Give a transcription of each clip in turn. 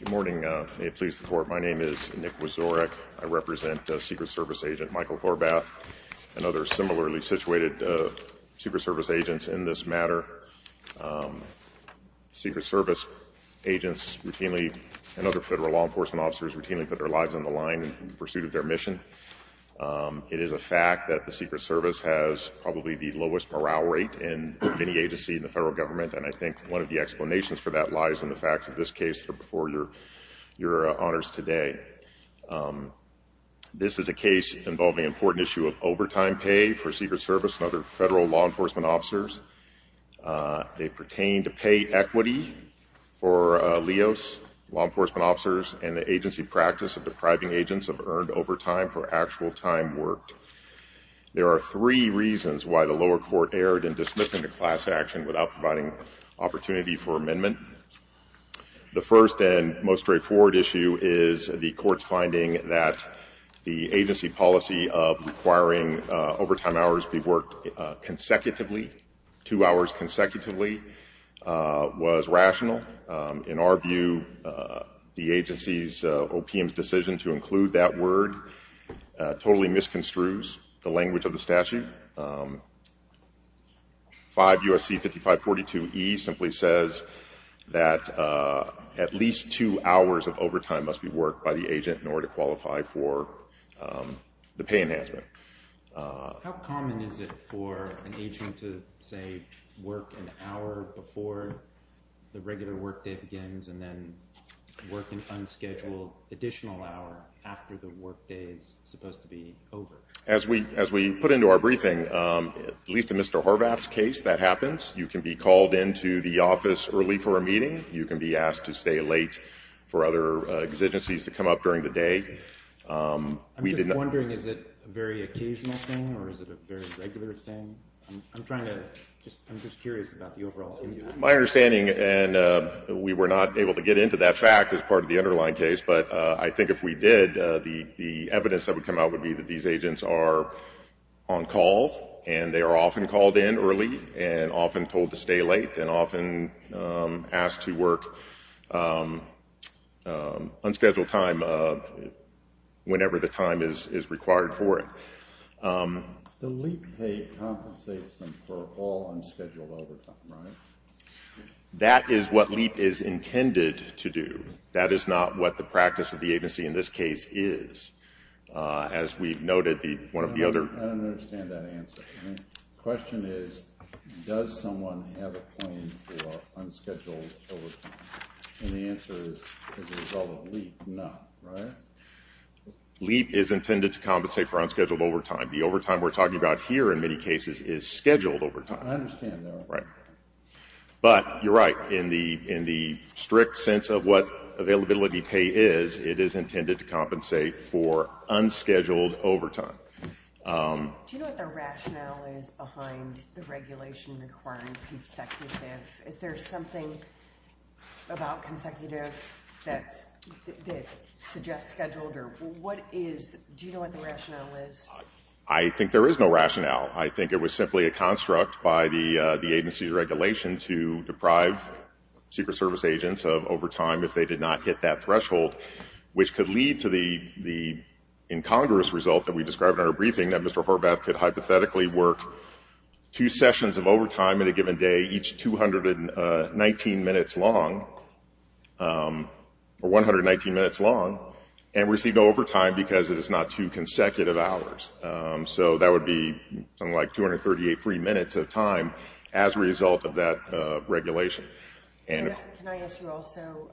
Good morning. May it please the Court, my name is Nick Wazorek. I represent Secret Service agent Michael Horvath and other similarly situated Secret Service agents in this matter. Secret Service agents routinely and other federal law enforcement officers routinely put their lives on the line in pursuit of their mission. It is a fact that the Secret Service is a federal government and I think one of the explanations for that lies in the facts of this case before your honors today. This is a case involving an important issue of overtime pay for Secret Service and other federal law enforcement officers. They pertain to pay equity for LEOS, law enforcement officers, and the agency practice of depriving agents of earned overtime for actual time worked. There are three reasons why the lower court erred in dismissing the class action without providing opportunity for amendment. The first and most straightforward issue is the court's finding that the agency policy of requiring overtime hours be worked consecutively, two hours consecutively, was rational. In our view, the agency's OPM's decision to include that word totally misconstrues the language of the statute. 5 U.S.C. 5542E simply says that at least two hours of overtime must be worked by the agent in order to qualify for the pay enhancement. How common is it for an agent to say work an hour before the regular work day begins and then work an unscheduled additional hour after the work day is supposed to be over? As we put into our briefing, at least in Mr. Horvath's case, that happens. You can be called into the office early for a meeting. You can be asked to stay late for other exigencies to come up during the day. We did not – I'm just wondering, is it a very occasional thing or is it a very regular thing? I'm trying to just – I'm just curious about the overall – My understanding, and we were not able to get into that fact as part of the underlying case, but I think if we did, the evidence that would come out would be that these agents are on call and they are often called in early and often told to stay late and often asked to work unscheduled time whenever the time is required for it. The LEAP pay compensates them for all unscheduled overtime, right? That is what LEAP is intended to do. That is not what the practice of the agency in this case is. As we've noted, one of the other – I don't understand that answer. The question is, does someone have a claim for unscheduled overtime? And the answer is, as a result of LEAP, no, right? LEAP is intended to compensate for unscheduled overtime. The overtime we're talking about here in many cases is scheduled overtime. I understand that. Right. But you're right. In the strict sense of what availability pay is, it is intended to compensate for unscheduled overtime. Do you know what the rationale is behind the regulation requiring consecutive? Is there something about consecutive that suggests scheduled? Do you know what the rationale is? I think there is no rationale. I think it was simply a construct by the agency's regulation to deprive Secret Service agents of overtime if they did not hit that threshold, which could lead to the incongruous result that we described in our briefing, that Mr. Horvath could hypothetically work two sessions of overtime in a given day, each 219 minutes long, and receive overtime because it is not two consecutive hours. So that would be something like 238 free minutes of time as a result of that regulation. And can I ask you also,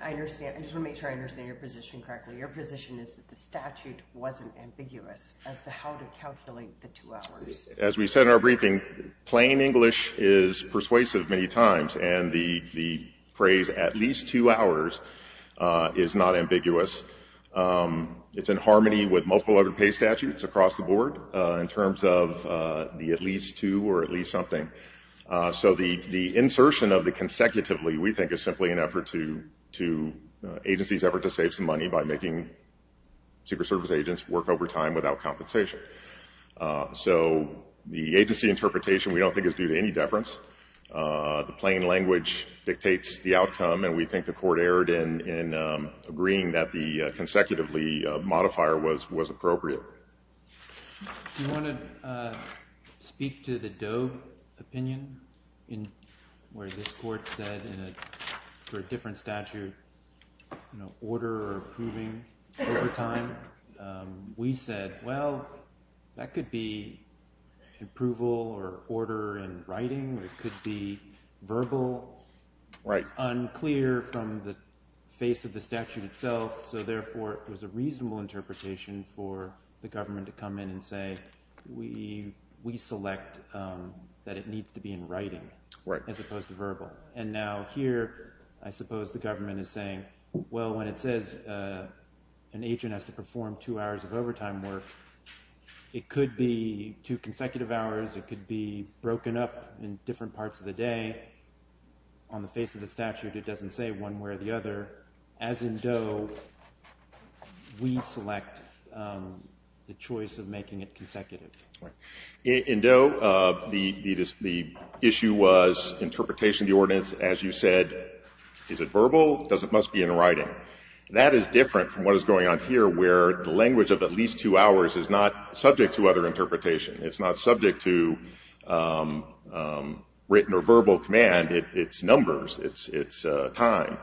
I understand, I just want to make sure I understand your position correctly. Your position is that the statute wasn't ambiguous as to how to calculate the two hours. As we said in our briefing, plain English is persuasive many times, and the phrase at least two hours is not ambiguous. It's in harmony with multiple other pay statutes across the board in terms of the at least two or at least something. So the insertion of the consecutively we think is simply an effort to agency's effort to save some money by making Secret Service agents work overtime without compensation. So the agency interpretation we don't think is due to any deference. The plain language dictates the outcome, and we think the Court erred in agreeing that the consecutively modifier was appropriate. Do you want to speak to the Doe opinion, where this Court said for a different statute, you know, order or approving overtime? We said, well, that could be approval or order in writing, or it could be verbal. It's unclear from the face of the statute itself, so therefore it was a reasonable interpretation for the government to come in and say, we select that it needs to be in writing as opposed to verbal. And now here, I suppose the government is saying, well, when it says an agent has to parts of the day, on the face of the statute, it doesn't say one way or the other. As in Doe, we select the choice of making it consecutive. In Doe, the issue was interpretation of the ordinance. As you said, is it verbal? Does it must be in writing? That is different from what is going on here, where the language of at least two hours is not subject to other interpretation. It's not subject to written or verbal command. It's numbers. It's time.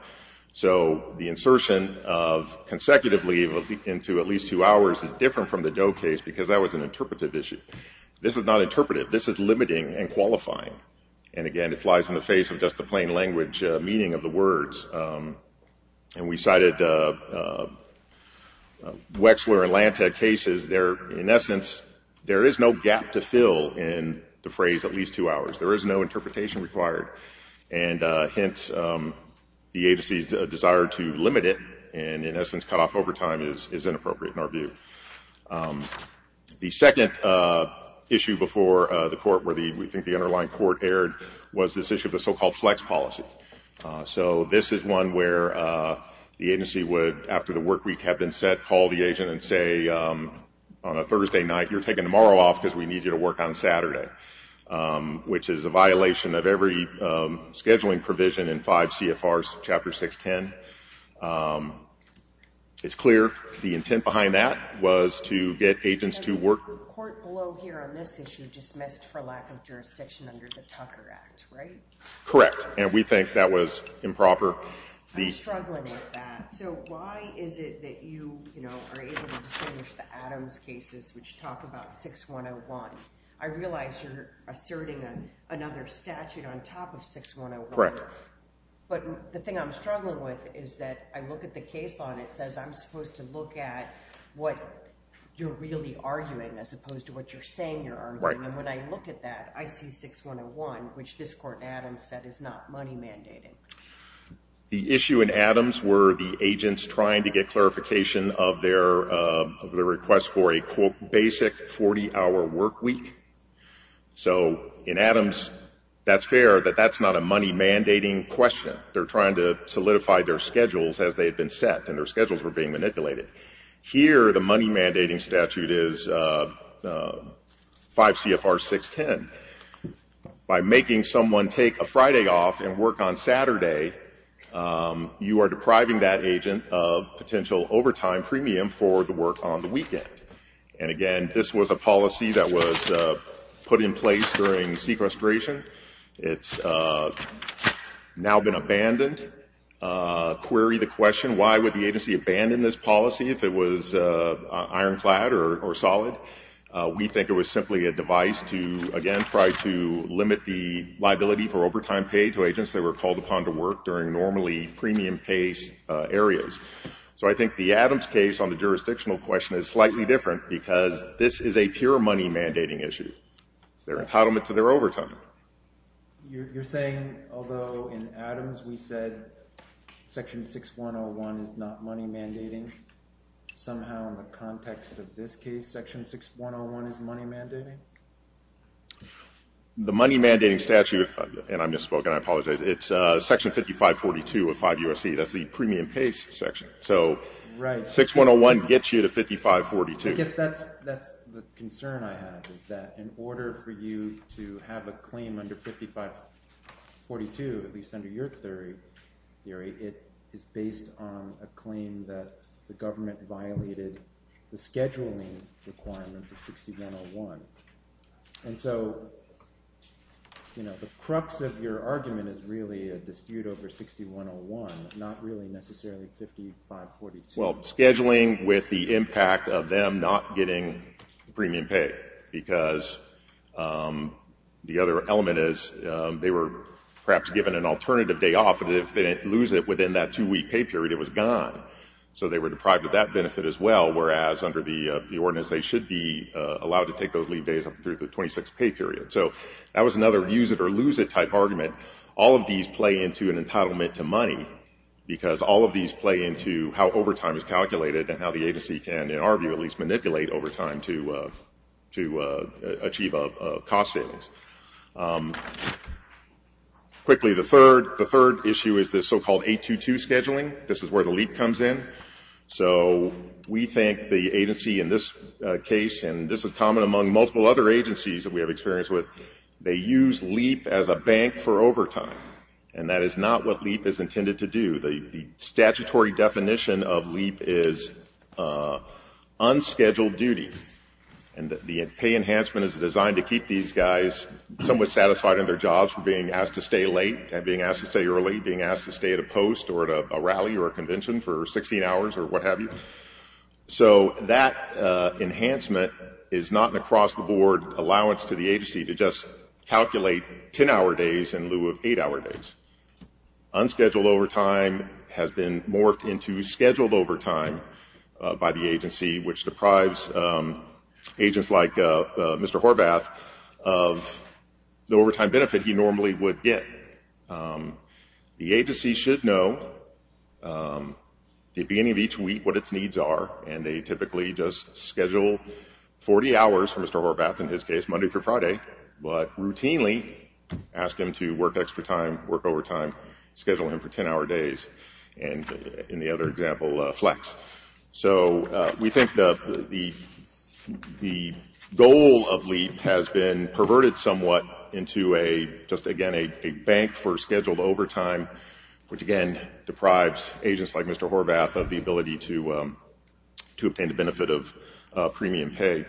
So the insertion of consecutively into at least two hours is different from the Doe case, because that was an interpretive issue. This is not interpretive. This is limiting and qualifying. And again, it flies in the face of just the plain language meaning of the words. And we cited Wexler and Lantek cases. In essence, there is no gap to fill in the phrase at least two hours. There is no interpretation required. And hence, the agency's desire to limit it and, in essence, cut off overtime is inappropriate in our view. The second issue before the Court where we think the underlying Court erred was this issue of the so-called flex policy. So this is one where the agency would, after the work week had been set, call the agent and say, on a Thursday night, you're taking tomorrow off because we need you to work on Saturday, which is a violation of every scheduling provision in 5 CFR Chapter 610. It's clear the intent behind that was to get agents to work. And the report below here on this issue dismissed for lack of jurisdiction under the Tucker Act, right? Correct. And we think that was improper. I'm struggling with that. So why is it that you, you know, are able to distinguish the Adams cases which talk about 6101? I realize you're asserting another statute on top of 6101. Correct. But the thing I'm struggling with is that I look at the case law and it says I'm supposed to look at what you're really arguing as opposed to what you're saying you're arguing. Right. And when I look at that, I see 6101, which this Court in Adams said is not money mandated. The issue in Adams were the agents trying to get clarification of their request for a, quote, basic 40-hour work week. So in Adams, that's fair that that's not a money mandating question. They're trying to solidify their schedules as they had been set and their schedules were being manipulated. Here, the money mandating statute is 5 CFR 610. By making someone take a Friday off and work on Saturday, you are depriving that agent of potential overtime premium for the work on the weekend. And, again, this was a policy that was put in place during sequestration. It's now been abandoned. Query the question, why would the agency abandon this policy if it was ironclad or solid? We think it was simply a device to, again, try to limit the liability for overtime paid to agents that were called upon to work during normally premium-paced areas. So I think the Adams case on the jurisdictional question is slightly different because this is a pure money mandating issue. It's their entitlement to their overtime. You're saying, although in Adams we said Section 6101 is not money mandating, somehow in the context of this case, Section 6101 is money mandating? The money mandating statute, and I misspoke and I apologize, it's Section 5542 of 5 U.S.C. That's the premium-paced section. So 6101 gets you to 5542. I guess that's the concern I have is that in order for you to have a claim under 5542, at least under your theory, it is based on a claim that the government violated the scheduling requirements of 6101. And so the crux of your argument is really a dispute over 6101, not really necessarily 5542. Well, scheduling with the impact of them not getting premium pay because the other element is they were perhaps given an alternative day off, and if they didn't lose it within that two-week pay period, it was gone. So they were deprived of that benefit as well, whereas under the ordinance, they should be allowed to take those leave days up through the 26-pay period. So that was another use-it-or-lose-it type argument. All of these play into an entitlement to money because all of these play into how overtime is calculated and how the agency can, in our view, at least manipulate overtime to achieve cost savings. Quickly, the third issue is this so-called 822 scheduling. This is where the LEAP comes in. So we think the agency in this case, and this is common among multiple other agencies that we have experience with, they use LEAP as a bank for overtime, and that is not what LEAP is intended to do. The statutory definition of LEAP is unscheduled duty, and the pay enhancement is designed to keep these guys somewhat satisfied in their jobs from being asked to stay late and being asked to stay early, being asked to stay at a post or at a rally or a convention for 16 hours or what have you. So that enhancement is not an across-the-board allowance to the agency to just calculate 10-hour days in lieu of 8-hour days. Unscheduled overtime has been morphed into scheduled overtime by the agency, which deprives agents like Mr. Horvath of the overtime benefit he normally would get. The agency should know at the beginning of each week what its needs are, and they typically just schedule 40 hours for Mr. Horvath, in his case, Monday through Friday, but routinely ask him to work extra time, work overtime, schedule him for 10-hour days, and in the other example, flex. So we think the goal of LEAP has been perverted somewhat into just, again, a bank for scheduled overtime, which, again, deprives agents like Mr. Horvath of the ability to obtain the benefit of premium pay.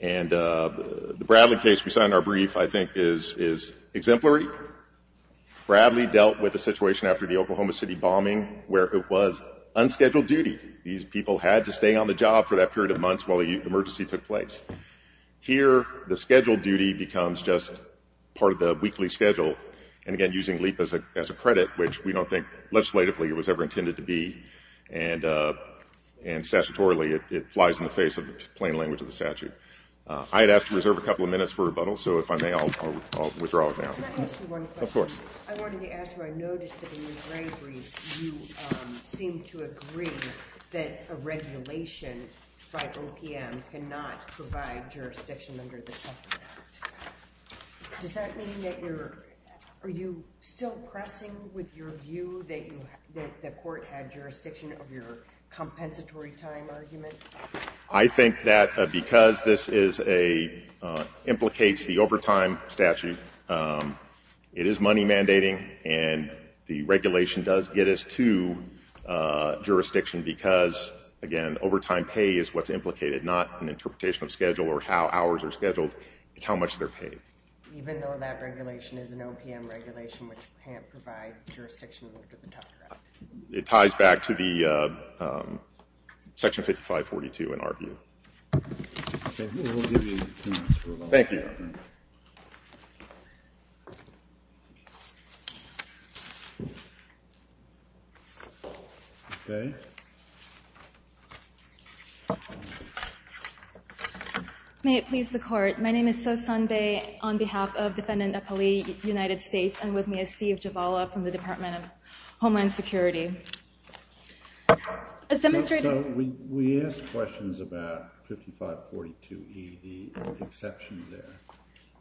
And the Bradley case we saw in our brief, I think, is exemplary. Bradley dealt with a situation after the Oklahoma City bombing where it was unscheduled duty. These people had to stay on the job for that period of months while the emergency took place. Here, the scheduled duty becomes just part of the weekly schedule, and again, using LEAP as a credit, which we don't think legislatively it was ever intended to be, and statutorily it lies in the face of the plain language of the statute. I had asked to reserve a couple of minutes for rebuttal, so if I may, I'll withdraw it now. Can I ask you one question? Of course. I wanted to ask you, I noticed that in your brief, you seemed to agree that a regulation by OPM cannot provide jurisdiction under the Trump Act. Does that mean that you're, are you still pressing with your view that you, that the court had jurisdiction of your compensatory time argument? I think that because this is a, implicates the overtime statute, it is money mandating, and the regulation does get us to jurisdiction because, again, overtime pay is what's implicated, not an interpretation of schedule or how hours are scheduled, it's how much they're paid. Even though that regulation is an OPM regulation which can't provide jurisdiction under the Trump Act? It ties back to the Section 5542 in our view. Okay, we'll give you two minutes for rebuttal. Thank you. Okay. May it please the court. My name is Sosan Bae on behalf of Defendant Apali, United States, and with me is Steve Javala from the Department of Homeland Security. As demonstrated- So, we asked questions about 5542E, the exception there,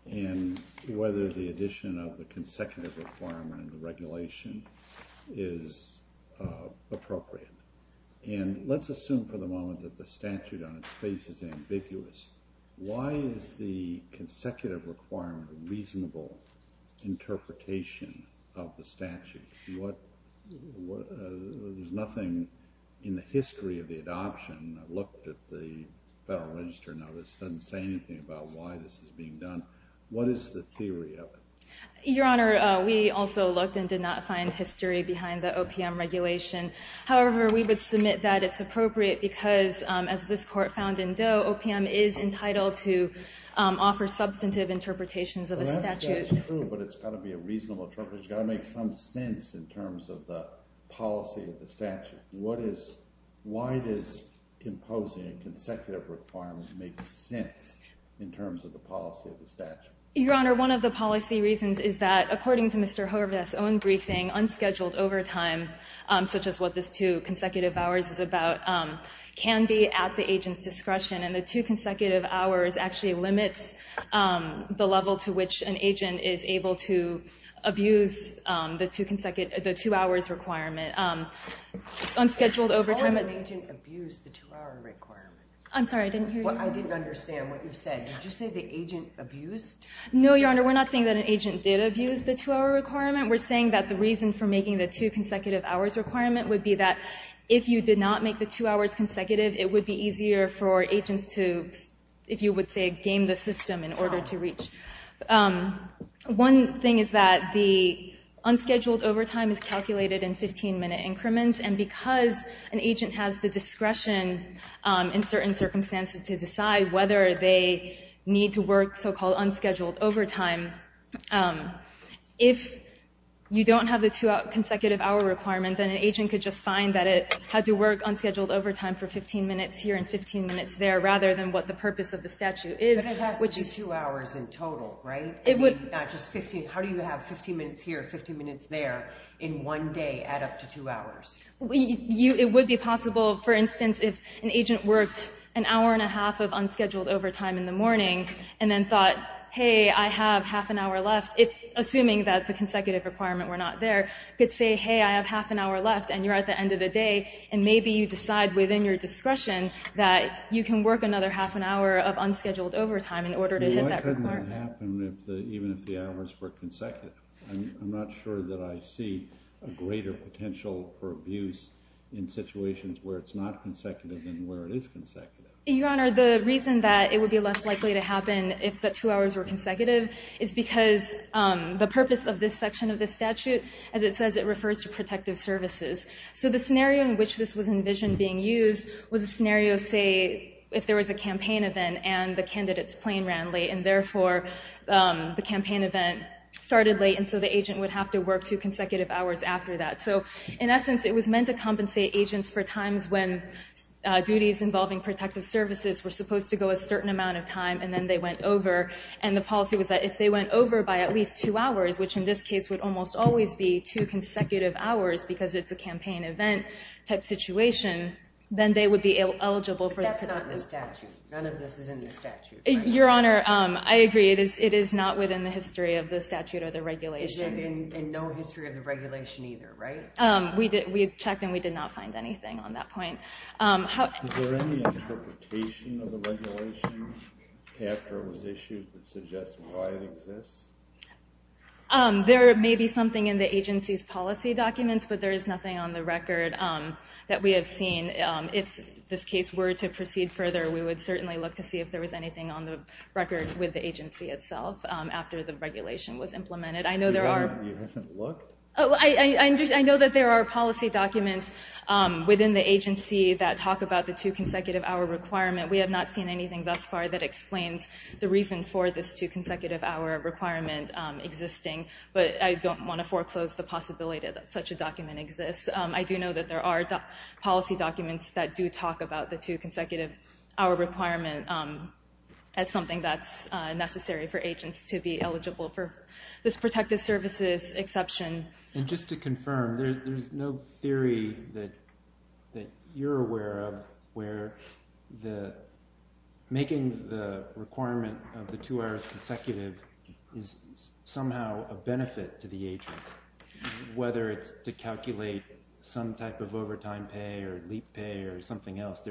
and whether the addition of the consecutive requirement in the regulation is appropriate. And let's assume for the moment that the statute on its face is ambiguous. Why is the consecutive requirement a reasonable interpretation of the statute? There's nothing in the history of the adoption. I looked at the Federal Register notice. It doesn't say anything about why this is being done. What is the theory of it? Your Honor, we also looked and did not find history behind the OPM regulation. However, we would submit that it's appropriate because, as this court found in Doe, OPM is entitled to offer substantive interpretations of the statute. That's true, but it's got to be a reasonable interpretation. It's got to make some sense in terms of the policy of the statute. Why does imposing a consecutive requirement make sense in terms of the policy of the statute? Your Honor, one of the policy reasons is that, according to Mr. Horvath's own briefing, unscheduled overtime, such as what this two consecutive hours is about, can be at the agent's discretion. And the two consecutive hours actually limits the level to which an agent is able to abuse the two hours requirement. Unscheduled overtime— How can an agent abuse the two-hour requirement? I'm sorry, I didn't hear you. I didn't understand what you said. Did you say the agent abused— No, Your Honor, we're not saying that an agent did abuse the two-hour requirement. We're saying that the reason for making the two consecutive hours requirement would be that if you did not make the two hours consecutive, it would be easier for agents to, if you would say, game the system in order to reach. One thing is that the unscheduled overtime is calculated in 15-minute increments, and because an agent has the discretion in certain circumstances to decide whether they need to work so-called unscheduled overtime, if you don't have the two consecutive hour requirement, then an agent could just find that it had to work unscheduled overtime for 15 minutes here and 15 minutes there, rather than what the purpose of the statute is. But it has to be two hours in total, right? I mean, not just 15. How do you have 15 minutes here, 15 minutes there, in one day add up to two hours? It would be possible, for instance, if an agent worked an hour and a half of unscheduled overtime in the morning and then thought, hey, I have half an hour left, assuming that the consecutive requirement were not there, could say, hey, I have half an hour left, and you're at the end of the day, and maybe you decide within your discretion that you can work another half an hour of unscheduled overtime in order to hit that requirement. Why couldn't it happen even if the hours were consecutive? I'm not sure that I see a greater potential for abuse in situations where it's not consecutive than where it is consecutive. Your Honor, the reason that it would be less likely to happen if the two hours were consecutive is because the purpose of this section of the statute, as it says, it refers to protective services. So the scenario in which this was envisioned being used was a scenario, say, if there was a campaign event and the candidate's plane ran late, and therefore the campaign event started late, and so the agent would have to work two consecutive hours after that. So in essence, it was meant to compensate agents for times when duties involving protective services were supposed to go a certain amount of time, and then they went over, and the policy was that if they went over by at least two hours, which in this case would almost always be two consecutive hours because it's a campaign event type situation, then they would be eligible for that. That's not in the statute. None of this is in the statute. Your Honor, I agree. It is not within the history of the statute or the regulation. And no history of the regulation either, right? We checked, and we did not find anything on that point. Is there any interpretation of the regulation after it was issued that suggests why it exists? There may be something in the agency's policy documents, but there is nothing on the record that we have seen. If this case were to proceed further, we would certainly look to see if there was anything on the record with the agency itself after the regulation was implemented. Your Honor, you haven't looked? I know that there are policy documents within the agency that talk about the two-consecutive-hour requirement. We have not seen anything thus far that explains the reason for this two-consecutive-hour requirement existing, but I don't want to foreclose the possibility that such a document exists. I do know that there are policy documents that do talk about the two-consecutive-hour requirement as something that's necessary for agents to be eligible for this protective services exception. And just to confirm, there's no theory that you're aware of where making the requirement of the two-hours consecutive is somehow a benefit to the agent, whether it's to calculate some type of overtime pay or leap pay or something else.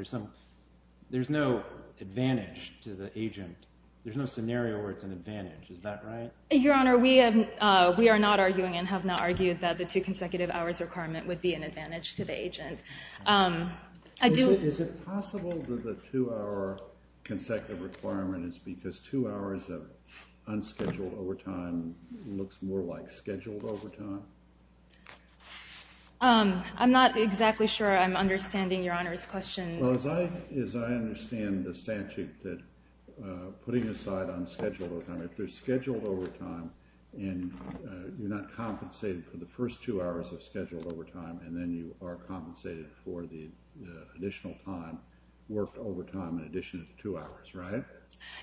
There's no advantage to the agent. There's no scenario where it's an advantage. Is that right? Your Honor, we are not arguing and have not argued that the two-consecutive-hours requirement would be an advantage to the agent. Is it possible that the two-hour consecutive requirement is because two hours of unscheduled overtime looks more like scheduled overtime? I'm not exactly sure I'm understanding Your Honor's question. As I understand the statute, putting aside unscheduled overtime, if there's scheduled overtime and you're not compensated for the first two hours of scheduled overtime, and then you are compensated for the additional time worked overtime in addition to two hours, right?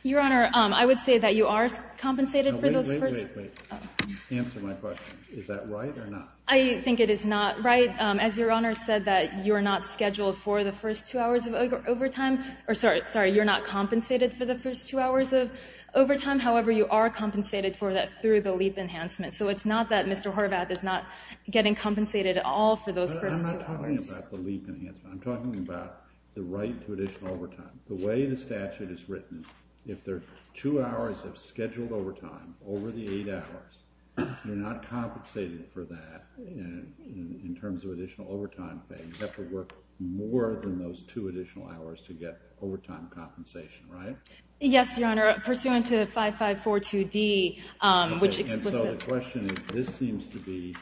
Your Honor, I would say that you are compensated for those first... Wait, wait, wait. Answer my question. Is that right or not? I think it is not right. As Your Honor said that you're not scheduled for the first two hours of overtime, or sorry, you're not compensated for the first two hours of overtime, however, you are compensated for that through the leap enhancement. So it's not that Mr. Horvath is not getting compensated at all for those first two hours. I'm not talking about the leap enhancement. I'm talking about the right to additional overtime. The way the statute is written, if there are two hours of scheduled overtime over the eight hours, you're not compensated for that in terms of additional overtime pay. You have to work more than those two additional hours to get overtime compensation, right? Yes, Your Honor. Pursuant to 5542D, which explicitly... And so the question is, this seems to be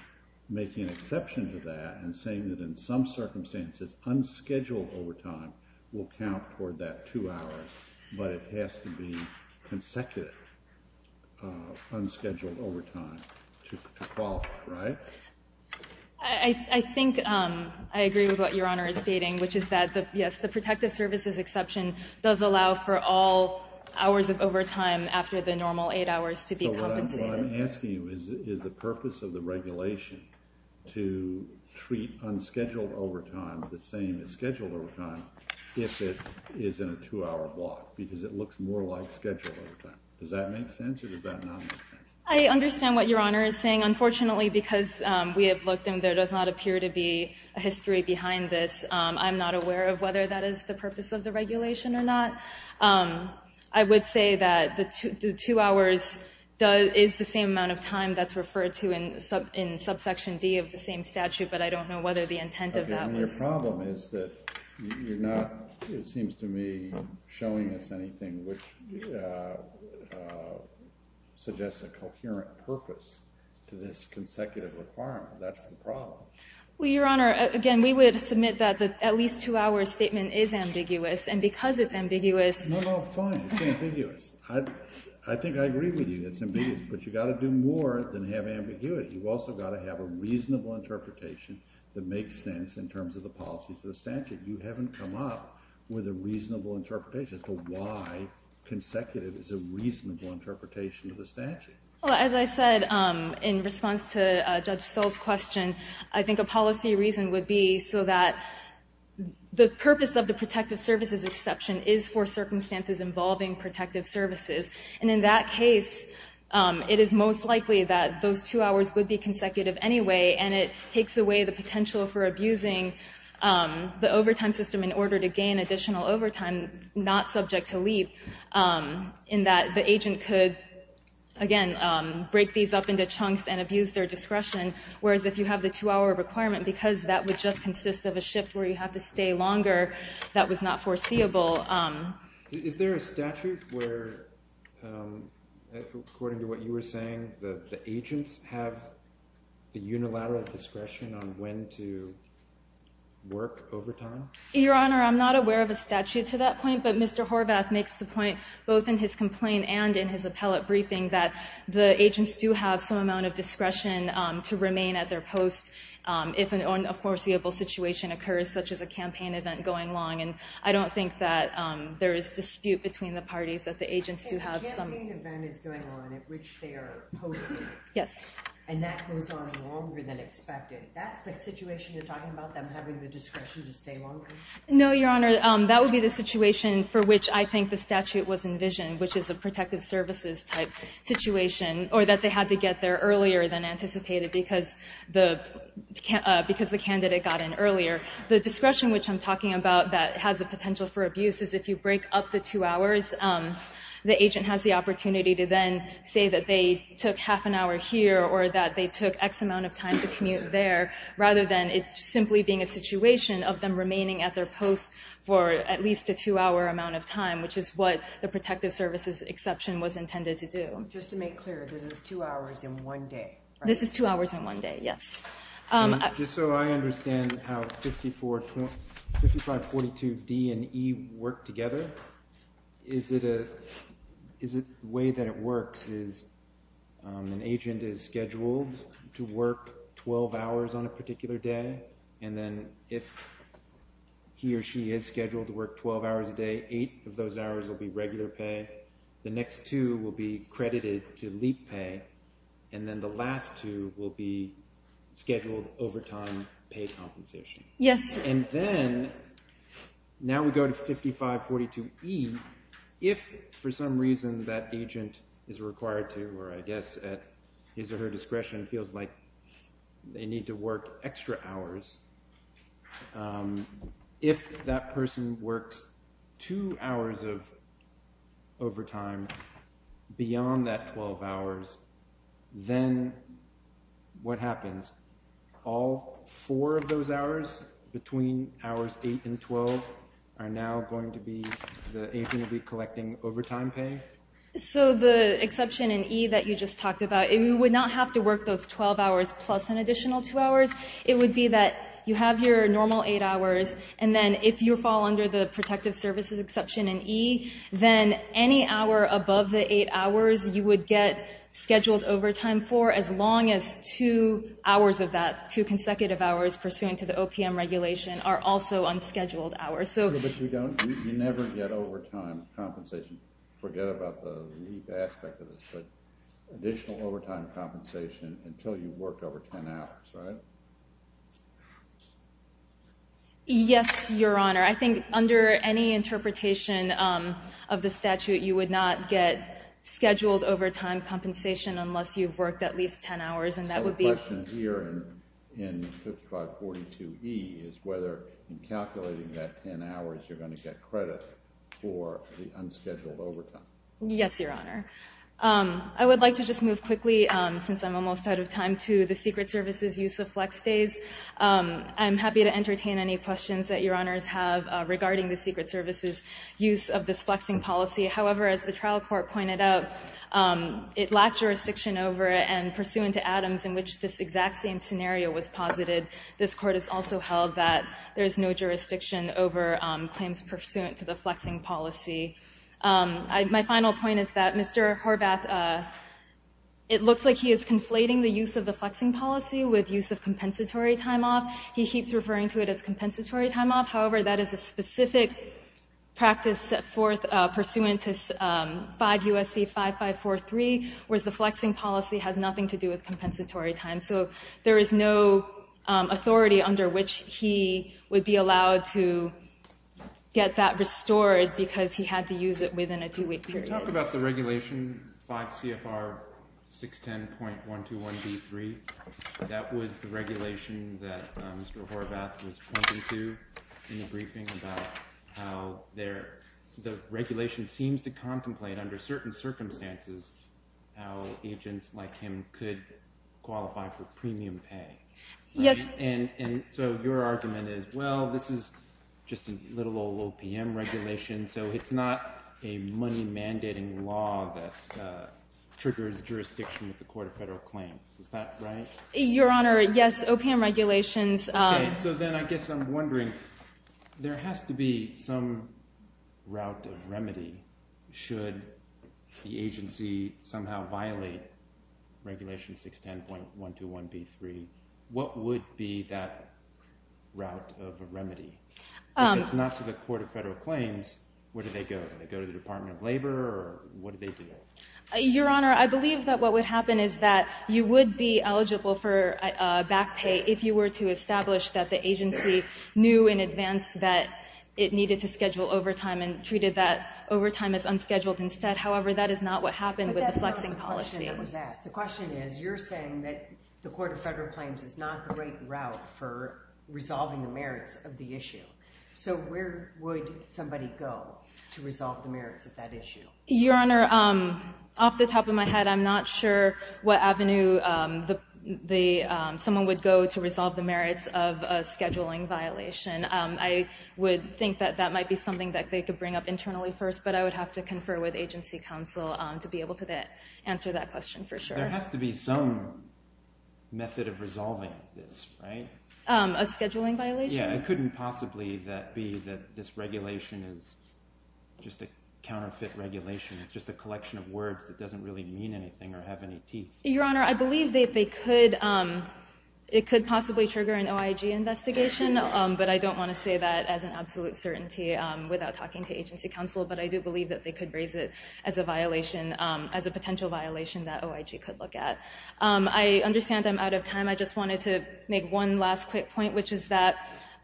making an exception to that and saying that in some circumstances, unscheduled overtime will count toward that two hours, but it has to be consecutive unscheduled overtime to qualify, right? I think I agree with what Your Honor is stating, which is that, yes, the protective services exception does allow for all hours of overtime after the normal eight hours to be compensated. So what I'm asking you is, is the purpose of the regulation to treat unscheduled overtime the same as scheduled overtime if it is in a two-hour block, because it looks more like scheduled overtime. Does that make sense, or does that not make sense? I understand what Your Honor is saying. Unfortunately, because we have looked and there does not appear to be a history behind this, I'm not aware of whether that is the purpose of the regulation or not. I would say that the two hours is the same amount of time that's referred to in subsection D of the same statute, but I don't know whether the intent of that was... Your Honor, your problem is that you're not, it seems to me, showing us anything which suggests a coherent purpose to this consecutive requirement. That's the problem. Well, Your Honor, again, we would submit that the at least two hours statement is ambiguous, and because it's ambiguous... No, no, fine. It's ambiguous. I think I agree with you. It's ambiguous, but you've got to do more than have ambiguity. You've also got to have a reasonable interpretation that makes sense in terms of the policies of the statute. You haven't come up with a reasonable interpretation as to why consecutive is a reasonable interpretation of the statute. Well, as I said in response to Judge Stoll's question, I think a policy reason would be so that the purpose of the protective services exception is for circumstances involving protective services. And in that case, it is most likely that those two hours would be consecutive anyway, and it takes away the potential for abusing the overtime system in order to gain additional overtime not subject to leap, in that the agent could, again, break these up into chunks and abuse their discretion. Whereas if you have the two-hour requirement, because that would just consist of a shift where you have to stay longer, that was not foreseeable. Is there a statute where, according to what you were saying, the agents have the unilateral discretion on when to work overtime? Your Honor, I'm not aware of a statute to that point, but Mr. Horvath makes the point both in his complaint and in his appellate briefing that the agents do have some amount of discretion to remain at their post if a foreseeable situation occurs, such as a campaign event going along. And I don't think that there is dispute between the parties that the agents do have some— I think a campaign event is going on at which they are posted. Yes. And that goes on longer than expected. That's the situation you're talking about, them having the discretion to stay longer? No, Your Honor. That would be the situation for which I think the statute was envisioned, which is a protective services type situation, or that they had to get there earlier than anticipated because the candidate got in earlier. The discretion which I'm talking about that has a potential for abuse is if you break up the two hours, the agent has the opportunity to then say that they took half an hour here or that they took X amount of time to commute there, rather than it simply being a situation of them remaining at their post for at least a two-hour amount of time, which is what the protective services exception was intended to do. Just to make clear, this is two hours in one day, right? This is two hours in one day, yes. Just so I understand how 5542D and E work together. Is it a way that it works is an agent is scheduled to work 12 hours on a particular day, and then if he or she is scheduled to work 12 hours a day, eight of those hours will be regular pay. The next two will be credited to leap pay, and then the last two will be scheduled overtime pay compensation. Yes. And then now we go to 5542E. If for some reason that agent is required to, or I guess at his or her discretion, feels like they need to work extra hours, if that person works two hours of overtime beyond that 12 hours, then what happens? All four of those hours between hours 8 and 12 are now going to be the agent will be collecting overtime pay? So the exception in E that you just talked about, it would not have to work those 12 hours plus an additional two hours. It would be that you have your normal eight hours, and then if you fall under the protective services exception in E, then any hour above the eight hours you would get scheduled overtime for as long as two hours of that, two consecutive hours pursuant to the OPM regulation are also unscheduled hours. But you never get overtime compensation, forget about the leap aspect of this, but additional overtime compensation until you've worked over 10 hours, right? Yes, Your Honor. I think under any interpretation of the statute, you would not get scheduled overtime compensation unless you've worked at least 10 hours. So the question here in 5542E is whether in calculating that 10 hours you're going to get credit for the unscheduled overtime. Yes, Your Honor. I would like to just move quickly, since I'm almost out of time, to the Secret Service's use of flex days. I'm happy to entertain any questions that Your Honors have regarding the Secret Service's use of this flexing policy. However, as the trial court pointed out, it lacked jurisdiction over and pursuant to Adams in which this exact same scenario was posited. This court has also held that there is no jurisdiction over claims pursuant to the flexing policy. My final point is that Mr. Horvath, it looks like he is conflating the use of the flexing policy with use of compensatory time off. He keeps referring to it as compensatory time off. However, that is a specific practice pursuant to 5 U.S.C. 5543, whereas the flexing policy has nothing to do with compensatory time. So there is no authority under which he would be allowed to get that restored because he had to use it within a two-week period. Can you talk about the regulation 5 CFR 610.121B3? That was the regulation that Mr. Horvath was pointing to in the briefing about how the regulation seems to contemplate under certain circumstances how agents like him could qualify for premium pay. Yes. And so your argument is, well, this is just a little old OPM regulation, so it's not a money mandating law that triggers jurisdiction with the Court of Federal Claims. Is that right? Your Honor, yes. OPM regulations. Okay, so then I guess I'm wondering, there has to be some route of remedy should the agency somehow violate regulation 610.121B3. What would be that route of remedy? If it's not to the Court of Federal Claims, where do they go? Do they go to the Department of Labor, or what do they do? Your Honor, I believe that what would happen is that you would be eligible for back pay if you were to establish that the agency knew in advance that it needed to schedule overtime and treated that overtime as unscheduled instead. However, that is not what happened with the flexing policy. But that's not the question that was asked. The question is, you're saying that the Court of Federal Claims is not the right route for resolving the merits of the issue. So where would somebody go to resolve the merits of that issue? Your Honor, off the top of my head, I'm not sure what avenue someone would go to resolve the merits of a scheduling violation. I would think that that might be something that they could bring up internally first, but I would have to confer with agency counsel to be able to answer that question for sure. There has to be some method of resolving this, right? A scheduling violation? Yeah, it couldn't possibly be that this regulation is just a counterfeit regulation. It's just a collection of words that doesn't really mean anything or have any teeth. Your Honor, I believe it could possibly trigger an OIG investigation, but I don't want to say that as an absolute certainty without talking to agency counsel. But I do believe that they could raise it as a potential violation that OIG could look at. I understand I'm out of time. I just wanted to make one last quick point, which is that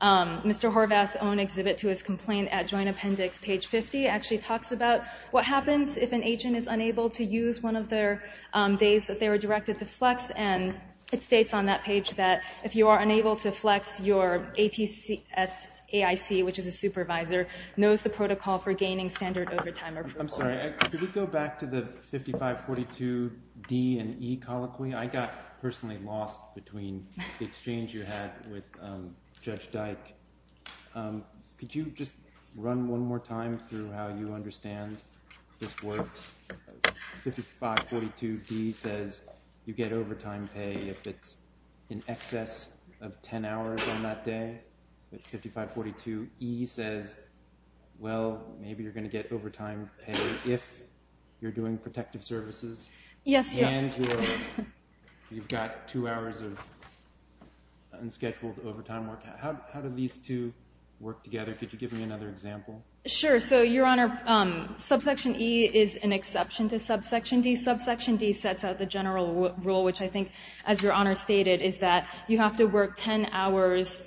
Mr. Horvath's own exhibit to his complaint at Joint Appendix, page 50, actually talks about what happens if an agent is unable to use one of their days that they were directed to flex. And it states on that page that if you are unable to flex, your AIC, which is a supervisor, knows the protocol for gaining standard overtime approval. I'm sorry. Could we go back to the 5542D and E colloquy? I got personally lost between the exchange you had with Judge Dyke. Could you just run one more time through how you understand this works? 5542D says you get overtime pay if it's in excess of 10 hours on that day. 5542E says, well, maybe you're going to get overtime pay if you're doing protective services. Yes. And you've got two hours of unscheduled overtime work. How do these two work together? Could you give me another example? Sure. So, Your Honor, Subsection E is an exception to Subsection D. Subsection D sets out the general rule, which I think, as Your Honor stated, is that you have to work 10 hours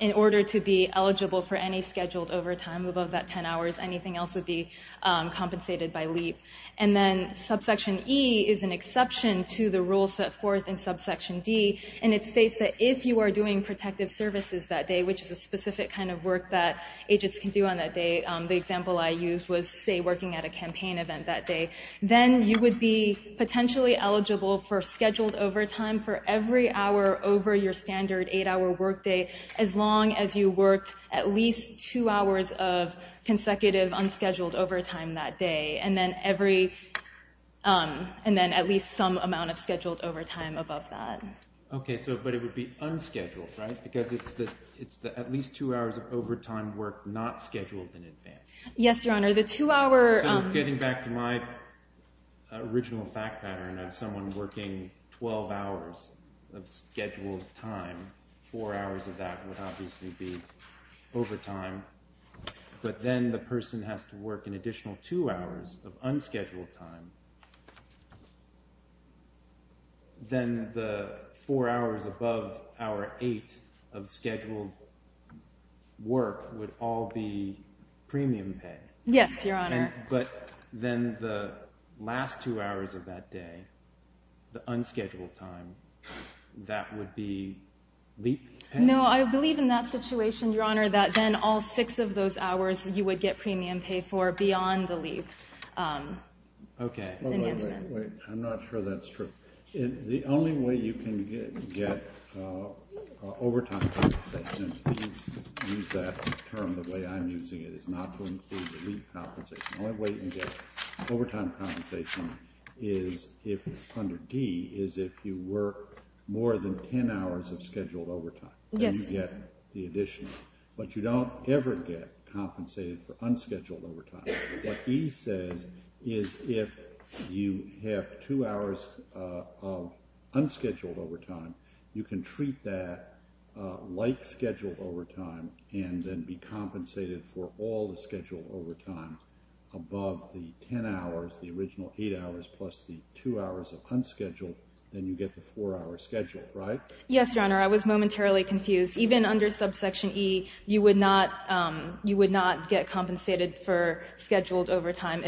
in order to be eligible for any scheduled overtime. Above that 10 hours, anything else would be compensated by LEAP. And then Subsection E is an exception to the rule set forth in Subsection D, and it states that if you are doing protective services that day, which is a specific kind of work that agents can do on that day, the example I used was, say, working at a campaign event that day, then you would be potentially eligible for scheduled overtime for every hour over your standard eight-hour workday, as long as you worked at least two hours of consecutive unscheduled overtime that day. And then at least some amount of scheduled overtime above that. Okay. But it would be unscheduled, right? Because it's at least two hours of overtime work not scheduled in advance. Yes, Your Honor. So getting back to my original fact pattern of someone working 12 hours of scheduled time, four hours of that would obviously be overtime. But then the person has to work an additional two hours of unscheduled time, then the four hours above hour eight of scheduled work would all be premium pay. Yes, Your Honor. But then the last two hours of that day, the unscheduled time, that would be LEAP pay? No, I believe in that situation, Your Honor, that then all six of those hours you would get premium pay for beyond the LEAP. Okay. I'm not sure that's true. The only way you can get overtime compensation, and please use that term the way I'm using it, is not to include the LEAP compensation. The only way you can get overtime compensation under D is if you work more than 10 hours of scheduled overtime. Yes. Then you get the additional. But you don't ever get compensated for unscheduled overtime. What E says is if you have two hours of unscheduled overtime, you can treat that like scheduled overtime and then be compensated for all the scheduled overtime above the 10 hours, the original eight hours, plus the two hours of unscheduled. Then you get the four hours scheduled, right? Yes, Your Honor. I was momentarily confused. Even under subsection E, you would not get compensated for scheduled overtime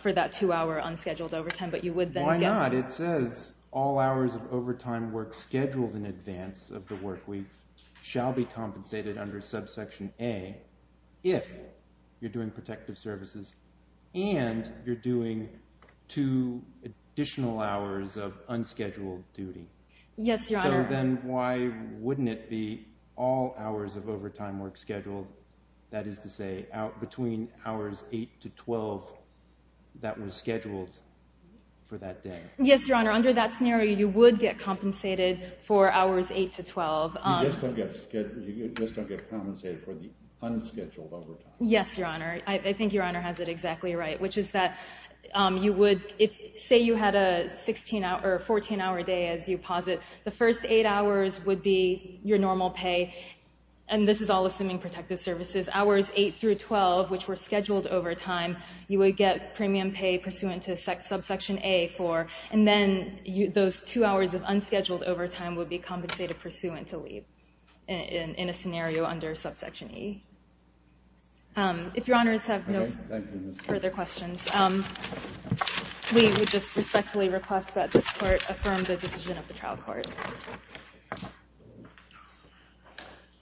for that two-hour unscheduled overtime, but you would then get. Why not? It says all hours of overtime work scheduled in advance of the work week shall be compensated under subsection A if you're doing protective services and you're doing two additional hours of unscheduled duty. Yes, Your Honor. So then why wouldn't it be all hours of overtime work scheduled, that is to say, between hours 8 to 12 that were scheduled for that day? Yes, Your Honor. Under that scenario, you would get compensated for hours 8 to 12. You just don't get compensated for the unscheduled overtime. Yes, Your Honor. I think Your Honor has it exactly right, which is that you would. Say you had a 14-hour day, as you posit, the first eight hours would be your normal pay. And this is all assuming protective services. Hours 8 through 12, which were scheduled overtime, you would get premium pay pursuant to subsection A for. And then those two hours of unscheduled overtime would be compensated pursuant to leave in a scenario under subsection E. If Your Honors have no further questions. We would just respectfully request that this Court affirm the decision of the trial court.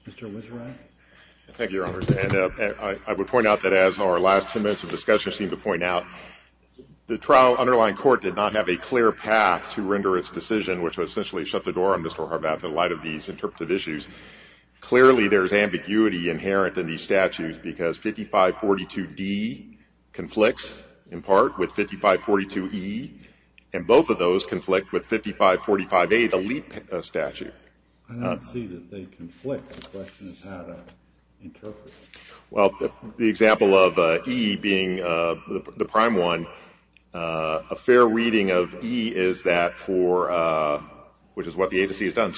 Mr. Wisserath. Thank you, Your Honors. And I would point out that as our last two minutes of discussion seemed to point out, the trial underlying court did not have a clear path to render its decision, which would essentially shut the door on Mr. Horvath in light of these interpretive issues. Clearly there is ambiguity inherent in these statutes because 5542D conflicts in part with 5542E, and both of those conflict with 5545A, the leap statute. I don't see that they conflict. The question is how to interpret it. Well, the example of E being the prime one, a fair reading of E is that for, which is what the agency has done,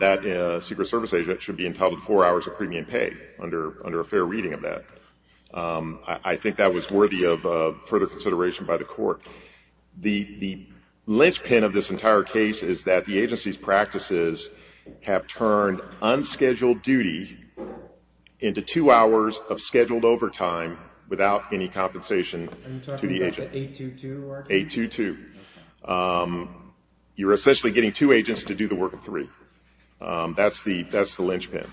that secret service agent should be entitled to four hours of premium pay under a fair reading of that. I think that was worthy of further consideration by the Court. The linchpin of this entire case is that the agency's practices have turned unscheduled duty into two hours of scheduled overtime without any compensation to the agent. Are you talking about the 822? 822. You're essentially getting two agents to do the work of three. That's the linchpin.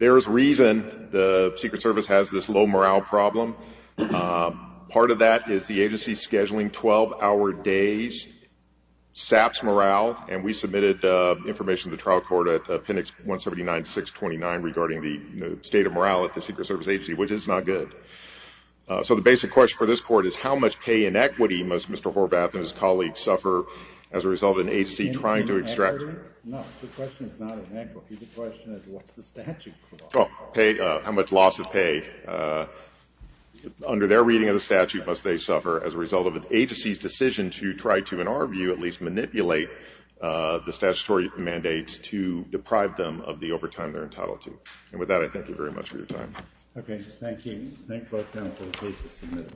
There is reason the Secret Service has this low morale problem. Part of that is the agency's scheduling 12-hour days saps morale, and we submitted information to the trial court at Appendix 179-629 regarding the state of morale at the Secret Service agency, which is not good. So the basic question for this Court is how much pay inequity must Mr. Horvath and his colleagues suffer as a result of an agency trying to extract? No, the question is not inequity. The question is what's the statute for that? Pay, how much loss of pay under their reading of the statute must they suffer as a result of an agency's decision to try to, in our view, at least manipulate the statutory mandates to deprive them of the overtime they're entitled to. And with that, I thank you very much for your time. Okay, thank you. Thank both counsels. Case is submitted.